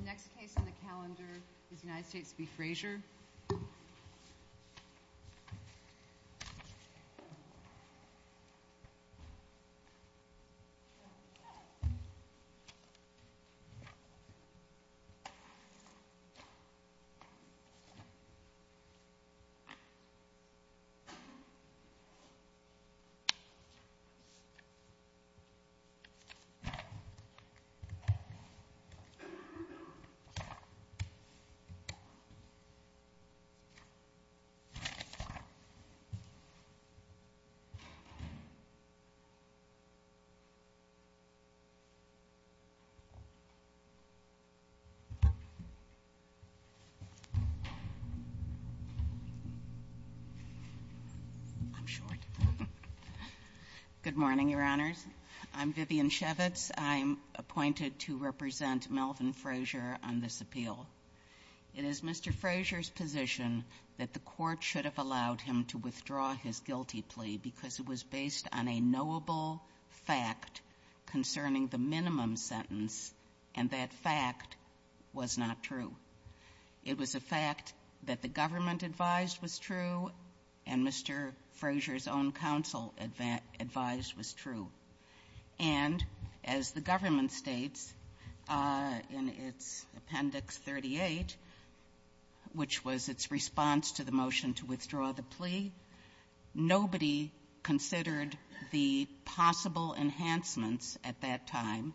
The next case on the calendar is the United States v. Frazier. Good morning, Your Honors. I'm Vivian Shevitz. I'm appointed to represent Melvin Frazier on this appeal. It is Mr. Frazier's position that the Court should have allowed him to withdraw his guilty plea because it was based on a knowable fact concerning the minimum sentence, and that fact was not true. It was a fact that the government advised was true and Mr. Frazier's own counsel advised was true. And as the government states in its Appendix 38, which was its response to the motion to withdraw the plea, nobody considered the possible enhancements at that time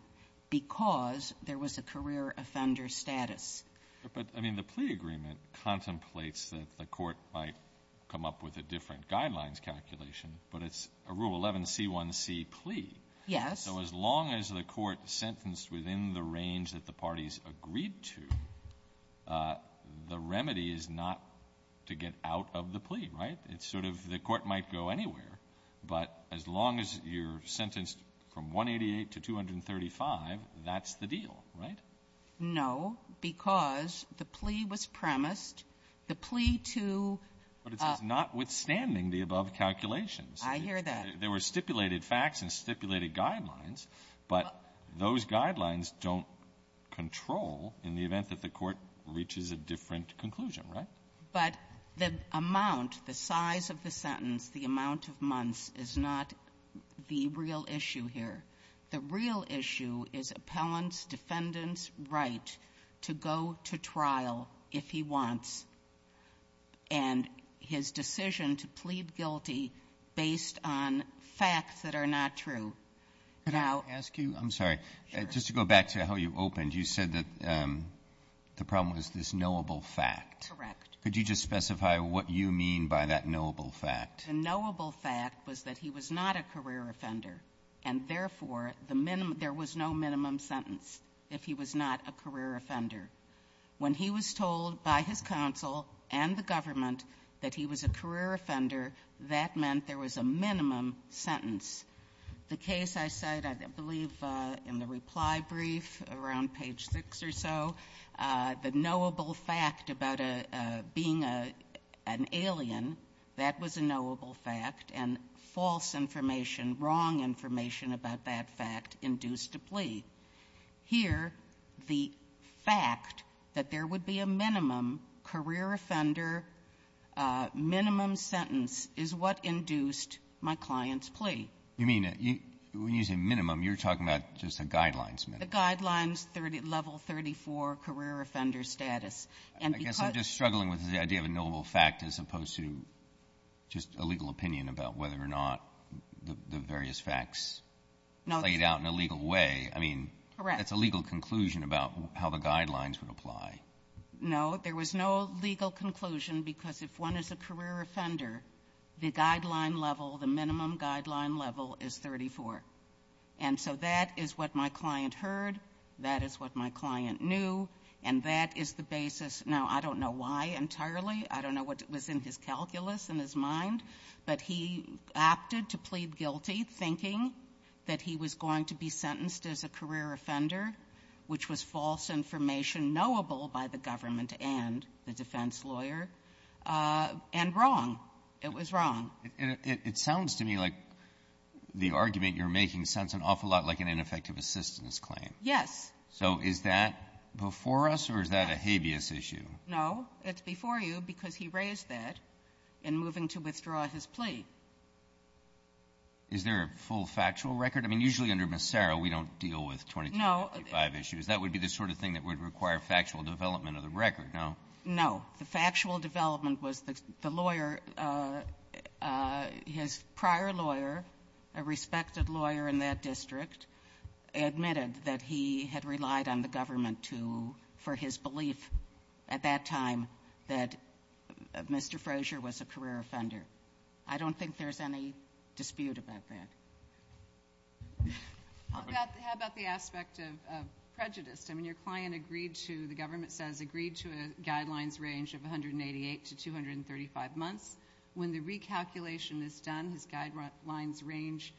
because there was a career offender status. But, I mean, the plea agreement contemplates that the Court might come up with a different guidelines calculation, but it's a Rule 11c1c plea. Yes. So as long as the Court sentenced within the range that the parties agreed to, the remedy is not to get out of the plea, right? It's sort of the Court might go anywhere, but as long as you're sentenced from 188 to 235, that's the deal, right? No, because the plea was premised. The plea to ---- But it's notwithstanding the above calculations. I hear that. There were stipulated facts and stipulated guidelines, but those guidelines don't control in the event that the Court reaches a different conclusion, right? But the amount, the size of the sentence, the amount of months is not the real issue here. The real issue is appellant's, defendant's right to go to trial if he wants and his decision to plead guilty based on facts that are not true. Now ---- Could I ask you? I'm sorry. Sure. Just to go back to how you opened, you said that the problem was this knowable fact. Correct. Could you just specify what you mean by that knowable fact? The knowable fact was that he was not a career offender, and therefore, the minimum ---- there was no minimum sentence if he was not a career offender. When he was told by his counsel and the government that he was a career offender, that meant there was a minimum sentence. The case I cite, I believe in the reply brief around page six or so, the knowable fact about being an alien, that was a knowable fact, and false information, wrong information about that fact induced a plea. Here, the fact that there would be a minimum career offender minimum sentence is what induced my client's plea. You mean, when you say minimum, you're talking about just a guidelines minimum. A guidelines level 34 career offender status. And because ---- I guess I'm just struggling with the idea of a knowable fact as opposed to just a legal opinion about whether or not the various facts played out in a legal way. I mean, that's a legal conclusion about how the guidelines would apply. No, there was no legal conclusion because if one is a career offender, the guideline level, the minimum guideline level is 34. And so that is what my client heard. That is what my client knew. And that is the basis. Now, I don't know why entirely. I don't know what was in his calculus, in his mind, but he opted to plead sentenced as a career offender, which was false information knowable by the government and the defense lawyer, and wrong. It was wrong. And it sounds to me like the argument you're making sounds an awful lot like an ineffective assistance claim. Yes. So is that before us or is that a habeas issue? No. It's before you because he raised that in moving to withdraw his plea. Is there a full factual record? I mean, usually under Massaro, we don't deal with 2255 issues. That would be the sort of thing that would require factual development of the record, no? No. The factual development was the lawyer, his prior lawyer, a respected lawyer in that district, admitted that he had relied on the government to — for his belief at that time that Mr. Frazier was a career offender. I don't think there's any dispute about that. How about the aspect of prejudice? I mean, your client agreed to — the government says agreed to a guidelines range of 188 to 235 months. When the recalculation is done, his guidelines range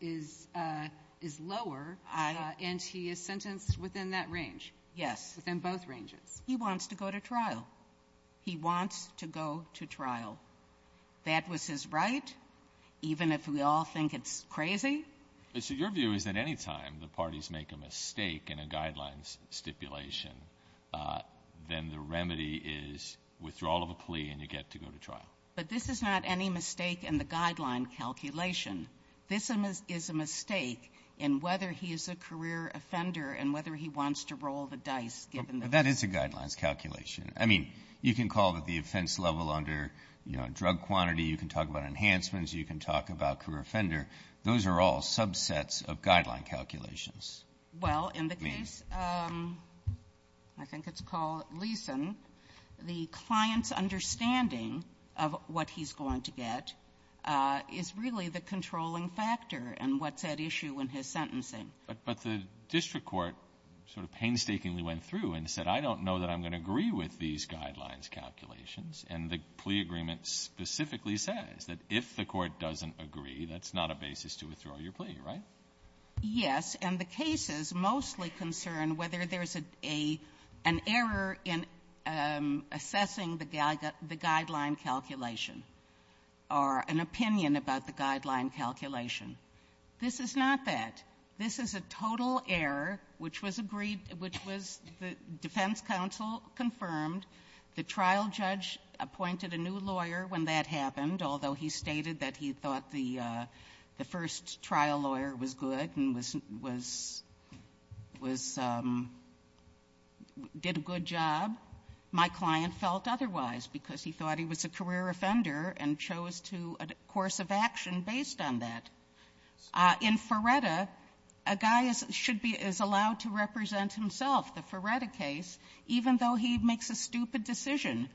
is lower, and he is sentenced within that range. Yes. Within both ranges. He wants to go to trial. He wants to go to trial. That was his right, even if we all think it's crazy? So your view is that any time the parties make a mistake in a guidelines stipulation, then the remedy is withdrawal of a plea and you get to go to trial. But this is not any mistake in the guideline calculation. This is a mistake in whether he is a career offender and whether he wants to roll the dice given the — But that is a guidelines calculation. I mean, you can call it the offense level under, you know, drug quantity. You can talk about enhancements. You can talk about career offender. Those are all subsets of guideline calculations. Well, in the case — I think it's called Leeson. The client's understanding of what he's going to get is really the controlling factor and what's at issue in his sentencing. But the district court sort of painstakingly went through and said, I don't know that I'm going to agree with these guidelines calculations. And the plea agreement specifically says that if the court doesn't agree, that's not a basis to withdraw your plea, right? Yes. And the cases mostly concern whether there's a — an error in assessing the guideline calculation or an opinion about the guideline calculation. This is not that. This is a total error, which was agreed — which was the defense counsel confirmed. The trial judge appointed a new lawyer when that happened, although he stated that he thought the first trial lawyer was good and was — was — was — did a good job. My client felt otherwise because he thought he was a career offender and chose to — a course of action based on that. In Ferretta, a guy is — should be — is allowed to represent himself, the Ferretta case, even though he makes a stupid decision.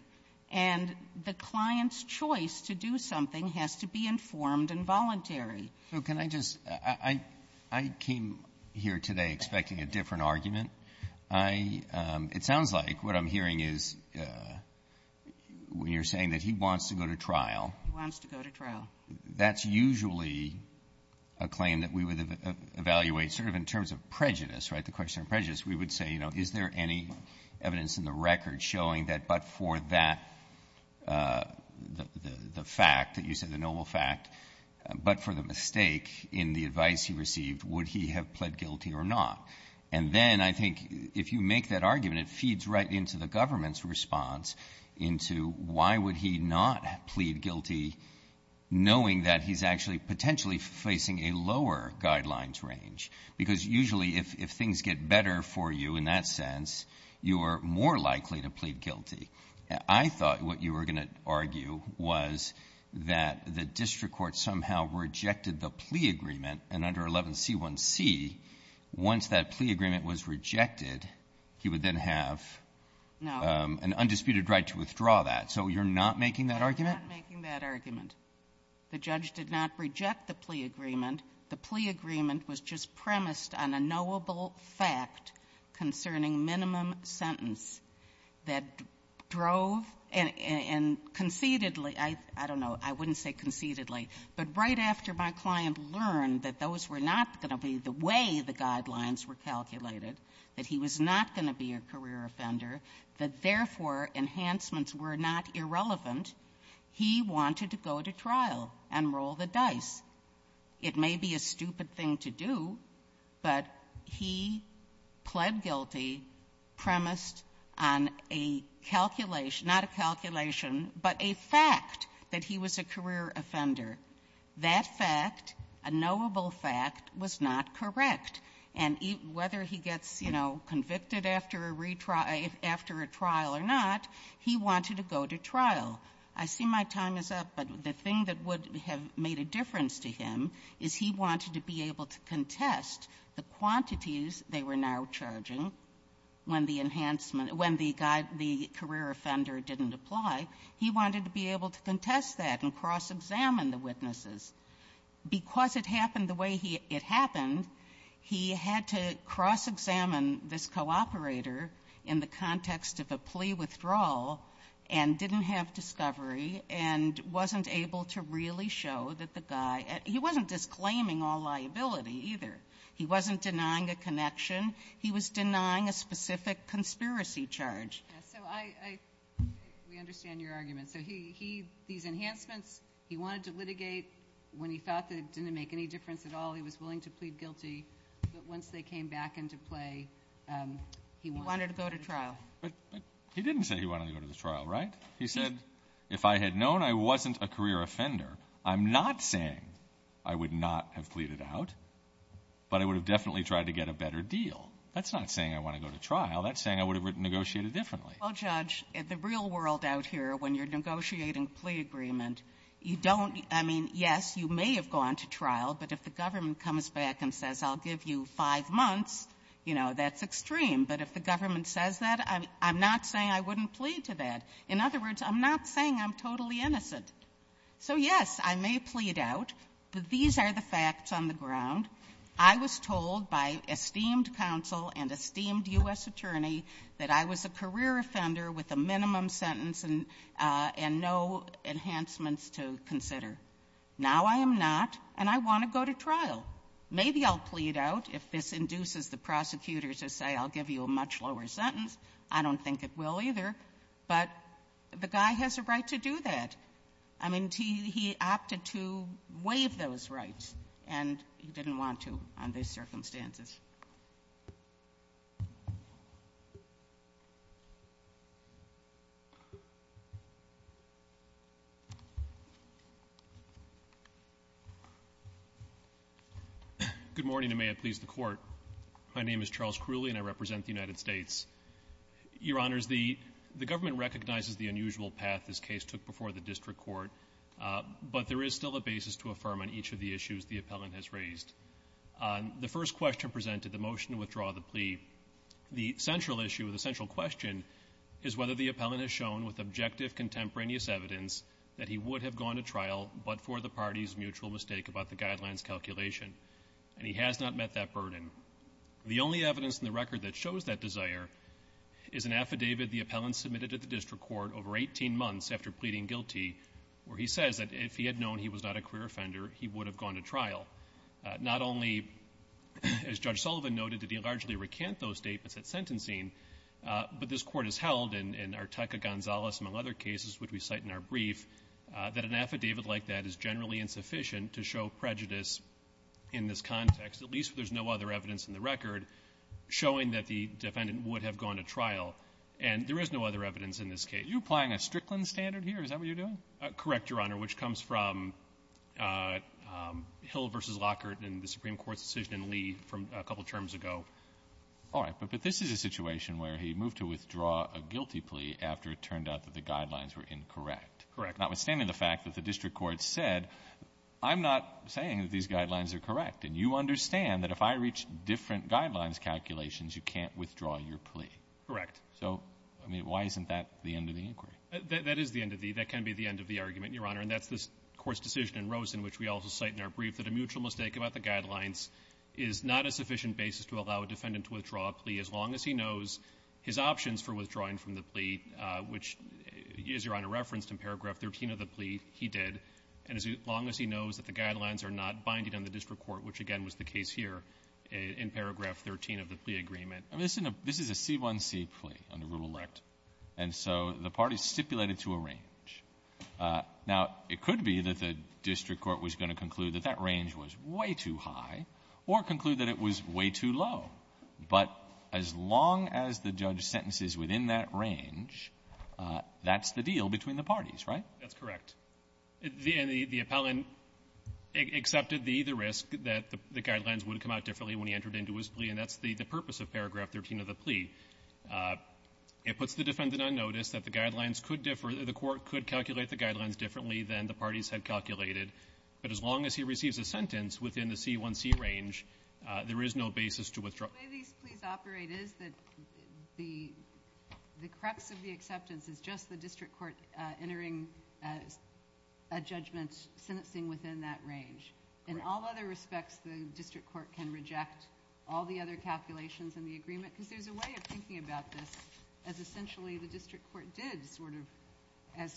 And the client's choice to do something has to be informed and voluntary. So can I just — I — I came here today expecting a different argument. I — it sounds like what I'm hearing is when you're saying that he wants to go to trial. He wants to go to trial. That's usually a claim that we would evaluate sort of in terms of prejudice, right? The question on prejudice, we would say, you know, is there any evidence in the record showing that but for that — the fact that you said, the noble fact, but for the mistake in the advice he received, would he have pled guilty or not? And then I think if you make that argument, it feeds right into the government's response into why would he not plead guilty, knowing that he's actually potentially facing a lower guidelines range. Because usually if things get better for you in that sense, you are more likely to plead guilty. I thought what you were going to argue was that the district court somehow rejected the plea agreement and under 11C1C, once that plea agreement was rejected, he would then have an undisputed right to withdraw that. So you're not making that argument? You're not making that argument. The judge did not reject the plea agreement. The plea agreement was just premised on a knowable fact concerning minimum sentence that drove and concededly — I don't know, I wouldn't say concededly, but right after my client learned that those were not going to be the way the guidelines were calculated, that he was not going to be a career offender, that therefore enhancements were not irrelevant, he wanted to go to trial and roll the dice. It may be a stupid thing to do, but he pled guilty premised on a calculation — not a calculation, but a fact that he was a career offender. That fact, a knowable fact, was not correct. And whether he gets, you know, convicted after a retrial — after a trial or not, he wanted to go to trial. I see my time is up, but the thing that would have made a difference to him is he wanted to be able to contest the quantities they were now charging when the enhancement — when the career offender didn't apply. He wanted to be able to contest that and cross-examine the witnesses. Because it happened the way it happened, he had to cross-examine this co-operator in the context of a plea withdrawal and didn't have discovery and wasn't able to really show that the guy — he wasn't disclaiming all liability, either. He wasn't denying a connection. He was denying a specific conspiracy charge. Yes. So I — we understand your argument. So he — these enhancements, he wanted to litigate when he thought that it didn't make any difference at all. He was willing to plead guilty, but once they came back into play, he wanted to go to trial. But he didn't say he wanted to go to trial, right? He said, if I had known I wasn't a career offender, I'm not saying I would not have pleaded out, but I would have definitely tried to get a better deal. That's not saying I want to go to trial. That's saying I would have negotiated differently. Well, Judge, in the real world out here, when you're negotiating a plea agreement, you don't — I mean, yes, you may have gone to trial, but if the government comes back and says, I'll give you five months, you know, that's extreme. But if the government says that, I'm not saying I wouldn't plead to that. In other words, I'm not saying I'm totally innocent. So yes, I may plead out, but these are the facts on the ground. I was told by esteemed counsel and esteemed U.S. attorney that I was a career offender with a minimum sentence and no enhancements to consider. Now I am not, and I want to go to trial. Maybe I'll plead out. If this induces the prosecutor to say, I'll give you a much lower sentence, I don't think it will either. But the guy has a right to do that. I mean, he opted to waive those rights, and he didn't want to on these circumstances. Good morning, and may it please the Court. My name is Charles Crooley, and I represent the United States. Your Honors, the government recognizes the unusual path this case took before the district court, but there is still a basis to affirm on each of the issues the appellant has raised. The first question presented, the motion to withdraw the plea, the central issue, the central question is whether the appellant has shown with objective contemporaneous evidence that he would have gone to trial but for the party's mutual mistake about the guidelines calculation, and he has not met that burden. The only evidence in the record that shows that desire is an affidavit the appellant submitted to the district court over 18 months after pleading guilty, where he says that if he had known he was not a career offender, he would have gone to trial. Not only, as Judge Sullivan noted, did he largely recant those statements at sentencing, but this Court has held, and Arteca-Gonzalez, among other cases, which we cite in our brief, that an affidavit like that is generally insufficient to show prejudice in this context, at least if there's no other evidence in the record showing that the defendant would have gone to trial. And there is no other evidence in this case. Roberts. Are you applying a Strickland standard here? Is that what you're doing? Fisher. Correct, Your Honor, which comes from Hill v. Lockhart and the Supreme Court's decision in Lee from a couple terms ago. Alito. All right. But this is a situation where he moved to withdraw a guilty plea after it turned out that the guidelines were incorrect. Fisher. Correct. Alito. Notwithstanding the fact that the district court said, I'm not saying that these guidelines are correct, and you understand that if I reach different guidelines calculations, you can't withdraw your plea. Fisher. Correct. Alito. So, I mean, why isn't that the end of the inquiry? Fisher. That is the end of the — that can be the end of the argument, Your Honor, and that's this Court's decision in Rosen, which we also cite in our brief, that a mutual mistake about the guidelines is not a sufficient basis to allow a defendant to withdraw a plea as long as he knows his options for withdrawing from the plea, which, as Your Honor referenced in paragraph 13 of the plea, he did, and as long as he knows that the guidelines are not binding on the district court, which, again, was the case here in paragraph 13 of the plea agreement. Alito. I mean, this is a C1C plea under Rural Elect, and so the parties stipulated to a range. Now, it could be that the district court was going to conclude that that range was way too high or conclude that it was way too low, but as long as the judge sentences within that range, that's the deal between the parties, right? Fisher. That's correct. And the appellant accepted the risk that the guidelines would come out differently when he entered into his plea, and that's the purpose of paragraph 13 of the plea. It puts the defendant on notice that the guidelines could differ, the court could calculate the guidelines differently than the parties had calculated, but as long as he receives a sentence within the C1C range, there is no basis to withdraw. The way these pleas operate is that the crux of the acceptance is just the district court entering a judgment, sentencing within that range. In all other respects, the district court can reject all the other calculations in the agreement because there's a way of thinking about this as essentially the district court did sort of,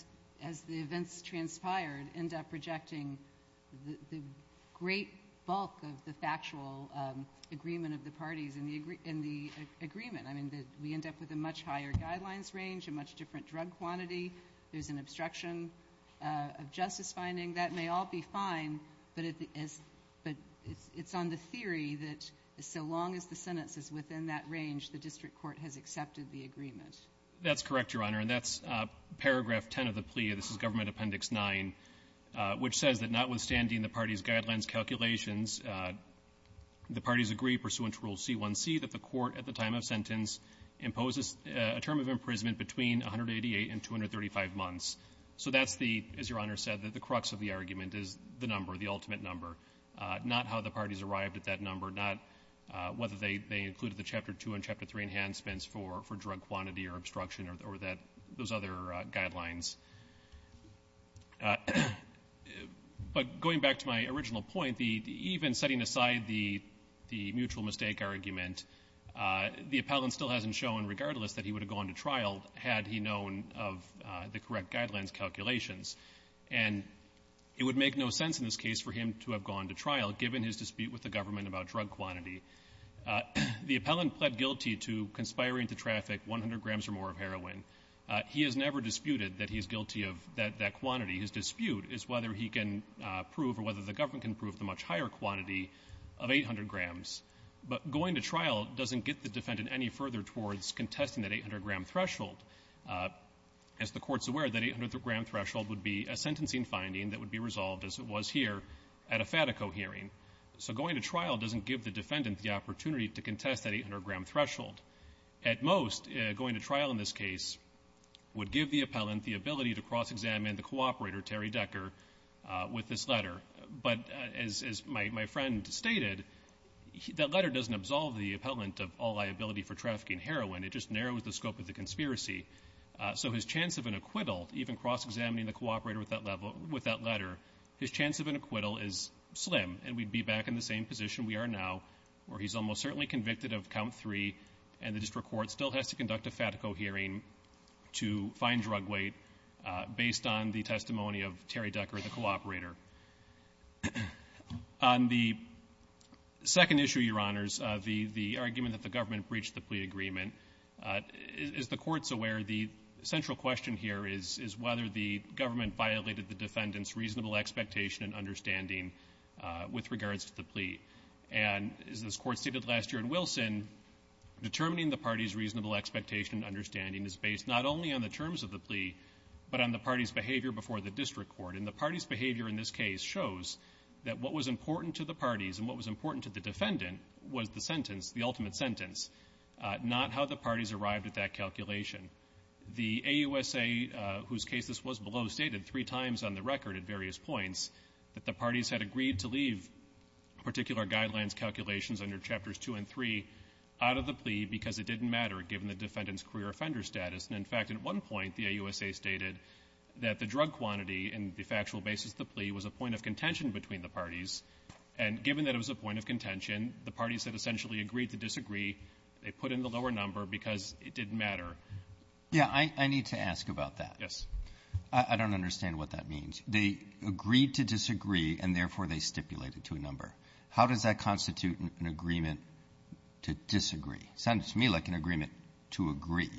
as the events transpired, end up rejecting the great bulk of the factual agreement of the parties in the agreement, I mean, we end up with a much higher guidelines range, a much different drug quantity, there's an obstruction of justice finding. That may all be fine, but it's on the theory that so long as the sentence is within that range, the district court has accepted the agreement. That's correct, Your Honor. And that's paragraph 10 of the plea, this is Government Appendix 9, which says that notwithstanding the parties' guidelines calculations, the parties agree pursuant to Rule C1C that the court at the time of sentence imposes a term of imprisonment between 188 and 235 months. So that's the, as Your Honor said, that the crux of the argument is the number, the ultimate number, not how the parties arrived at that number, not whether they included the Chapter 2 and Chapter 3 enhancements for drug quantity or obstruction or those other guidelines. But going back to my original point, even setting aside the mutual mistake argument, the appellant still hasn't shown, regardless, that he would have gone to trial had he known of the correct guidelines calculations. And it would make no sense in this case for him to have gone to trial, given his dispute with the government about drug quantity. The appellant pled guilty to conspiring to traffic 100 grams or more of heroin. He has never disputed that he's guilty of that quantity. His dispute is whether he can prove or whether the government can prove the much higher quantity of 800 grams. But going to trial doesn't get the defendant any further towards contesting that 800-gram threshold. As the Court's aware, that 800-gram threshold would be a sentencing finding that would be resolved, as it was here, at a FATICO hearing. So going to trial doesn't give the defendant the opportunity to contest that 800-gram threshold. At most, going to trial in this case would give the appellant the ability to cross-examine the cooperator, Terry Decker, with this letter. But as my friend stated, that letter doesn't absolve the appellant of all liability for trafficking heroin. It just narrows the scope of the conspiracy. So his chance of an acquittal, even cross-examining the cooperator with that letter, his chance of an acquittal is slim, and we'd be back in the same position we are now, where he's almost certainly convicted of count three, and the District Court still has to conduct a FATICO hearing to find drug weight, based on the testimony of Terry Decker, the cooperator. On the second issue, Your Honors, the argument that the government breached the plea agreement, as the Court's aware, the central question here is whether the government violated the defendant's reasonable expectation and understanding with regards to the plea. And as this Court stated last year in Wilson, determining the party's reasonable expectation and understanding is based not only on the terms of the plea, but on the party's behavior before the District Court. And the party's behavior in this case shows that what was important to the parties and what was important to the defendant was the sentence, the ultimate sentence, not how the parties arrived at that calculation. The AUSA, whose case this was below, stated three times on the record at various points that the parties had agreed to leave particular guidelines, calculations under Chapters 2 and 3 out of the plea because it didn't matter, given the defendant's career offender status. And, in fact, at one point, the AUSA stated that the drug quantity in the factual basis of the plea was a point of contention between the parties. And given that it was a point of contention, the parties had essentially agreed to disagree. They put in the lower number because it didn't matter. Yeah. I need to ask about that. Yes. I don't understand what that means. First, they agreed to disagree, and, therefore, they stipulated to a number. How does that constitute an agreement to disagree? It sounds to me like an agreement to agree.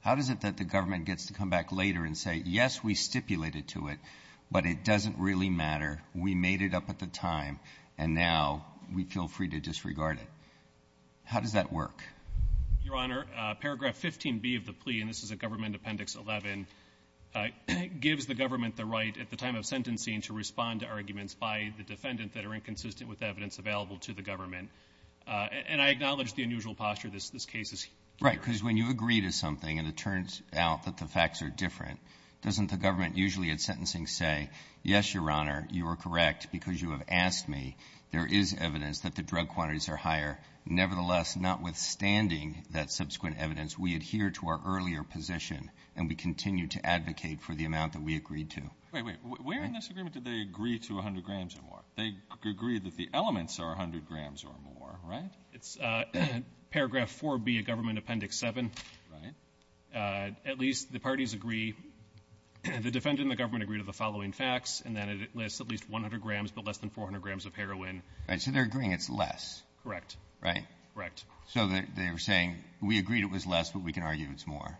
How is it that the government gets to come back later and say, yes, we stipulated to it, but it doesn't really matter, we made it up at the time, and now we feel free to disregard it? How does that work? Your Honor, Paragraph 15B of the plea, and this is at Government Appendix 11, gives the government the right, at the time of sentencing, to respond to arguments by the defendant that are inconsistent with evidence available to the government. And I acknowledge the unusual posture this case is here. Right. Because when you agree to something and it turns out that the facts are different, doesn't the government usually, at sentencing, say, yes, Your Honor, you are correct because you have asked me. There is evidence that the drug quantities are higher. Nevertheless, notwithstanding that subsequent evidence, we adhere to our earlier position, and we continue to advocate for the amount that we agreed to. Wait, wait. Where in this agreement did they agree to 100 grams or more? They agreed that the elements are 100 grams or more, right? It's Paragraph 4B of Government Appendix 7. Right. At least the parties agree, the defendant and the government agree to the following facts, and that it lists at least 100 grams, but less than 400 grams of heroin. Right. So they're agreeing it's less. Correct. Right? Correct. So they're saying, we agreed it was less, but we can argue it's more.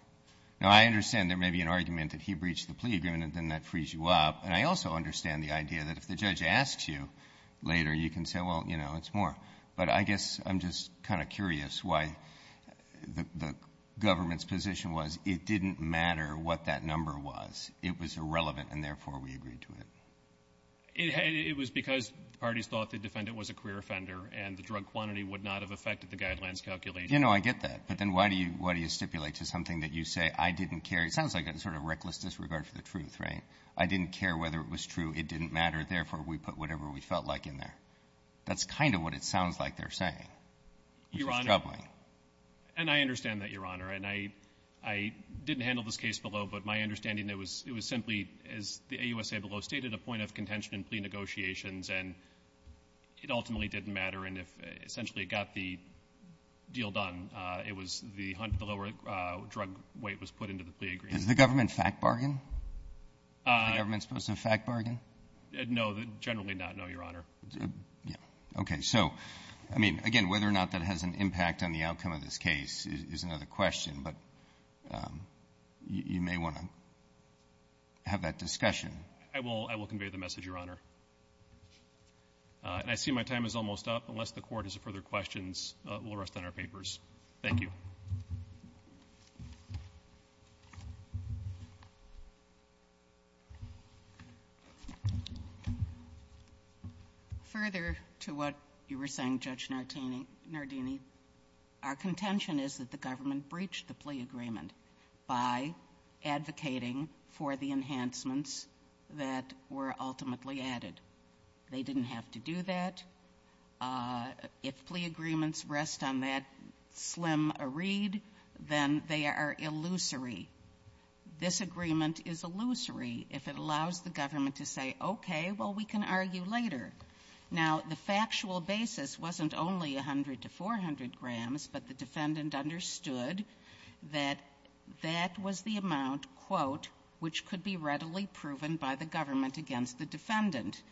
Now, I understand there may be an argument that he breached the plea agreement, and then that frees you up. And I also understand the idea that if the judge asks you later, you can say, well, you know, it's more. But I guess I'm just kind of curious why the government's position was, it didn't matter what that number was. It was irrelevant, and therefore, we agreed to it. It was because the parties thought the defendant was a queer offender, and the drug quantity would not have affected the guidelines calculation. You know, I get that. But then why do you stipulate to something that you say, I didn't care? It sounds like a sort of reckless disregard for the truth, right? I didn't care whether it was true. It didn't matter. Therefore, we put whatever we felt like in there. That's kind of what it sounds like they're saying, which is troubling. Your Honor, and I understand that, Your Honor. And I didn't handle this case below, but my understanding, it was simply, as the AUSA below stated, a point of contention in plea negotiations, and it ultimately didn't matter. And if essentially it got the deal done, it was the lower drug weight was put into the plea agreement. Is the government fact bargain? Is the government supposed to fact bargain? No, generally not, no, Your Honor. Okay. So, I mean, again, whether or not that has an impact on the outcome of this case is another question, but you may want to have that discussion. I will convey the message, Your Honor. And I see my time is almost up. Unless the Court has further questions, we'll rest on our papers. Thank you. Further to what you were saying, Judge Nardini, our contention is that the government breached the plea agreement by advocating for the enhancements that were ultimately added. They didn't have to do that. If plea agreements rest on that slim reed, then they are illusory. This agreement is illusory if it allows the government to say, okay, well, we can argue later. Now, the factual basis wasn't only 100 to 400 grams, but the defendant understood that that was the amount, quote, which could be readily proven by the government against the defendant,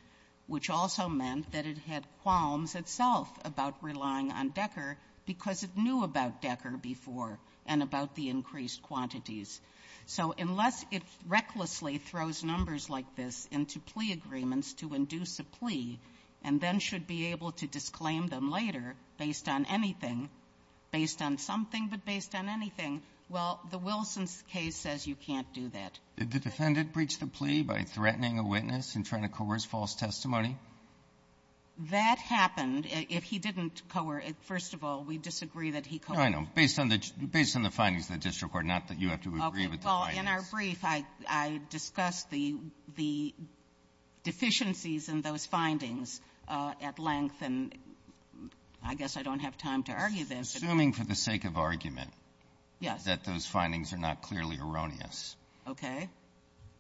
which also meant that it had qualms itself about relying on Decker because it knew about Decker before and about the increased quantities. So unless it recklessly throws numbers like this into plea agreements to induce a plea and then should be able to disclaim them later based on anything, based on something, but based on anything, well, the Wilson case says you can't do that. Did the defendant breach the plea by threatening a witness and trying to coerce false testimony? That happened. If he didn't coerce, first of all, we disagree that he coerced. No, I know. Based on the findings of the district court, not that you have to agree with the findings. Well, in our brief, I discussed the deficiencies in those findings at length, and I guess I don't have time to argue them. I'm assuming for the sake of argument that those findings are not clearly erroneous. Okay.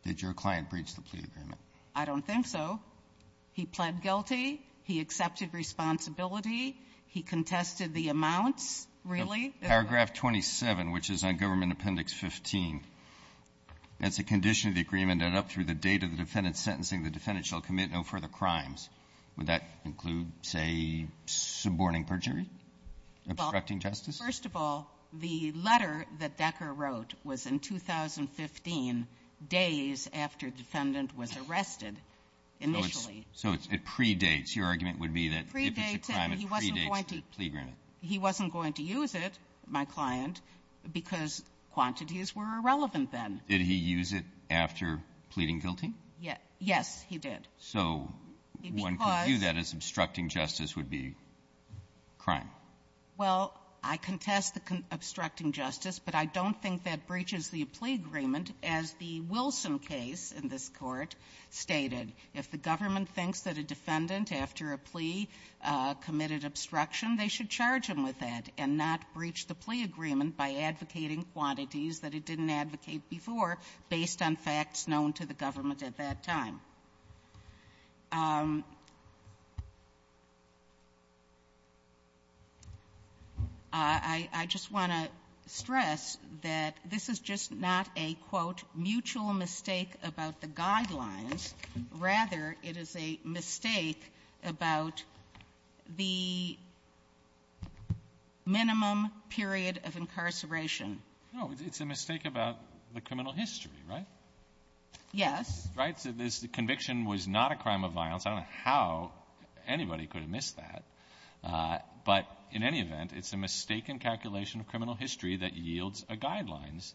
Did your client breach the plea agreement? I don't think so. He pled guilty. He accepted responsibility. He contested the amounts, really. Paragraph 27, which is on Government Appendix 15, that's a condition of the agreement that up through the date of the defendant's sentencing, the defendant shall commit no further crimes. Would that include, say, suborning perjury? Obstructing justice? Well, first of all, the letter that Decker wrote was in 2015, days after the defendant was arrested initially. So it's pre-dates. Your argument would be that if it's a crime, it pre-dates the plea agreement. He wasn't going to use it, my client, because quantities were irrelevant then. Did he use it after pleading guilty? Yes, he did. So one could view that as obstructing justice would be crime. Well, I contest the obstructing justice, but I don't think that breaches the plea agreement. As the Wilson case in this Court stated, if the government thinks that a defendant after a plea committed obstruction, they should charge him with that and not breach the plea agreement by advocating quantities that it didn't advocate before based on facts known to the government at that time. I just want to stress that this is just not a, quote, mutual mistake about the guidelines. Rather, it is a mistake about the minimum period of incarceration. No, it's a mistake about the criminal history, right? Yes. Right? So this conviction was not a crime of violence. I don't know how anybody could have missed that. But in any event, it's a mistaken calculation of criminal history that yields a guidelines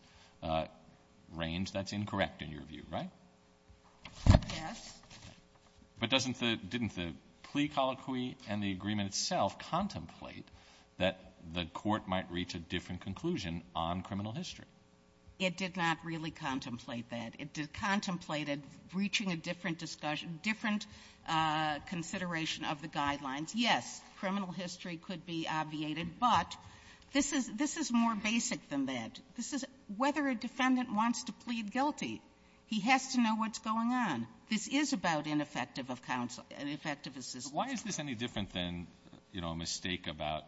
range that's incorrect in your view, right? Yes. But doesn't the – didn't the plea colloquy and the agreement itself contemplate that the Court might reach a different conclusion on criminal history? It did not really contemplate that. It contemplated reaching a different discussion, different consideration of the guidelines. Yes, criminal history could be obviated, but this is more basic than that. This is whether a defendant wants to plead guilty. He has to know what's going on. This is about ineffective of counsel – ineffective assistance. Why is this any different than, you know, a mistake about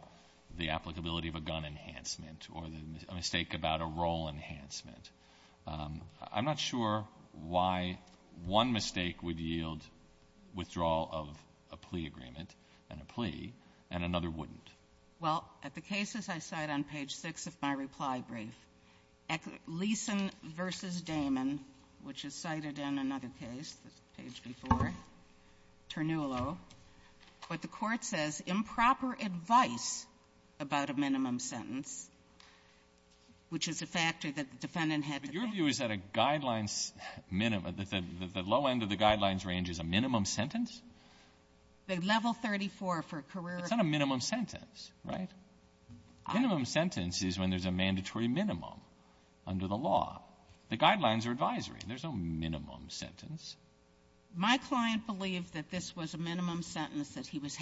the applicability of a gun enhancement or a mistake about a role enhancement? I'm not sure why one mistake would yield withdrawal of a plea agreement and a plea, and another wouldn't. Well, at the cases I cite on page 6 of my reply brief, Leeson v. Damon, which is cited in another case, page 4, Ternullo, but the Court says improper advice about a minimum sentence, which is a factor that the defendant had to pay. But your view is that a guidelines minimum – that the low end of the guidelines range is a minimum sentence? The level 34 for career – It's not a minimum sentence, right? Minimum sentence is when there's a mandatory minimum under the law. The guidelines are advisory. There's no minimum sentence. My client believed that this was a minimum sentence that he was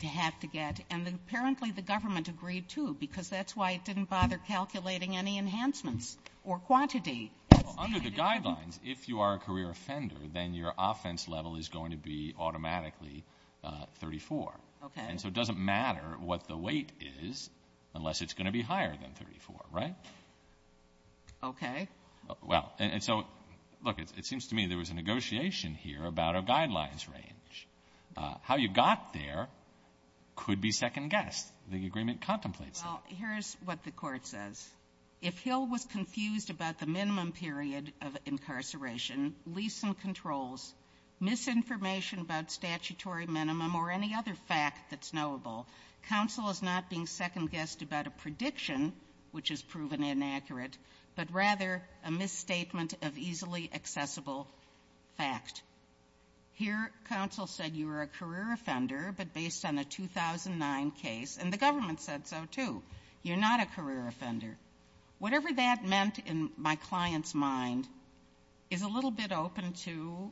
to have to get, and apparently the government agreed, too, because that's why it didn't bother calculating any enhancements or quantity. Under the guidelines, if you are a career offender, then your offense level is going to be automatically 34. Okay. And so it doesn't matter what the weight is unless it's going to be higher than 34, right? Okay. Well, and so, look, it seems to me there was a negotiation here about a guidelines range. How you got there could be second-guessed. The agreement contemplates that. Well, here's what the Court says. If Hill was confused about the minimum period of incarceration, lease and controls, misinformation about statutory minimum, or any other fact that's knowable, counsel is not being second-guessed about a prediction, which is proven inaccurate, but rather a misstatement of easily accessible fact. Here, counsel said you were a career offender, but based on a 2009 case, and the government said so, too, you're not a career offender. Whatever that meant in my client's mind is a little bit open to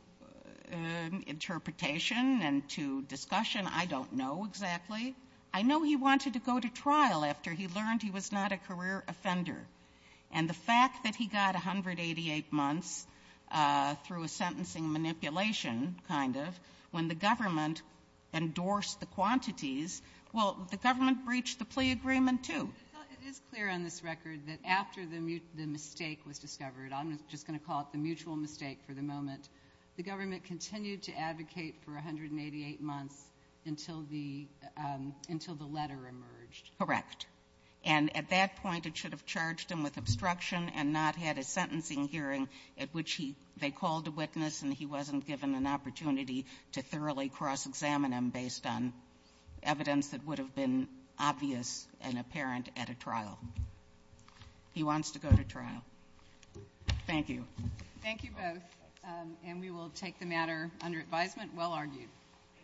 interpretation and to discussion. I don't know exactly. I know he wanted to go to trial after he learned he was not a career offender, and the fact that he got 188 months through a sentencing manipulation, kind of, when the government endorsed the quantities, well, the government breached the plea agreement, too. It is clear on this record that after the mistake was discovered, I'm just going to call it the mutual mistake for the moment, the government continued to advocate for 188 months until the letter emerged. Correct. And at that point, it should have charged him with obstruction and not had a sentencing hearing at which they called a witness and he wasn't given an opportunity to thoroughly cross-examine him based on evidence that would have been obvious and apparent at a trial. He wants to go to trial. Thank you. Thank you both. And we will take the matter under advisement. Well argued.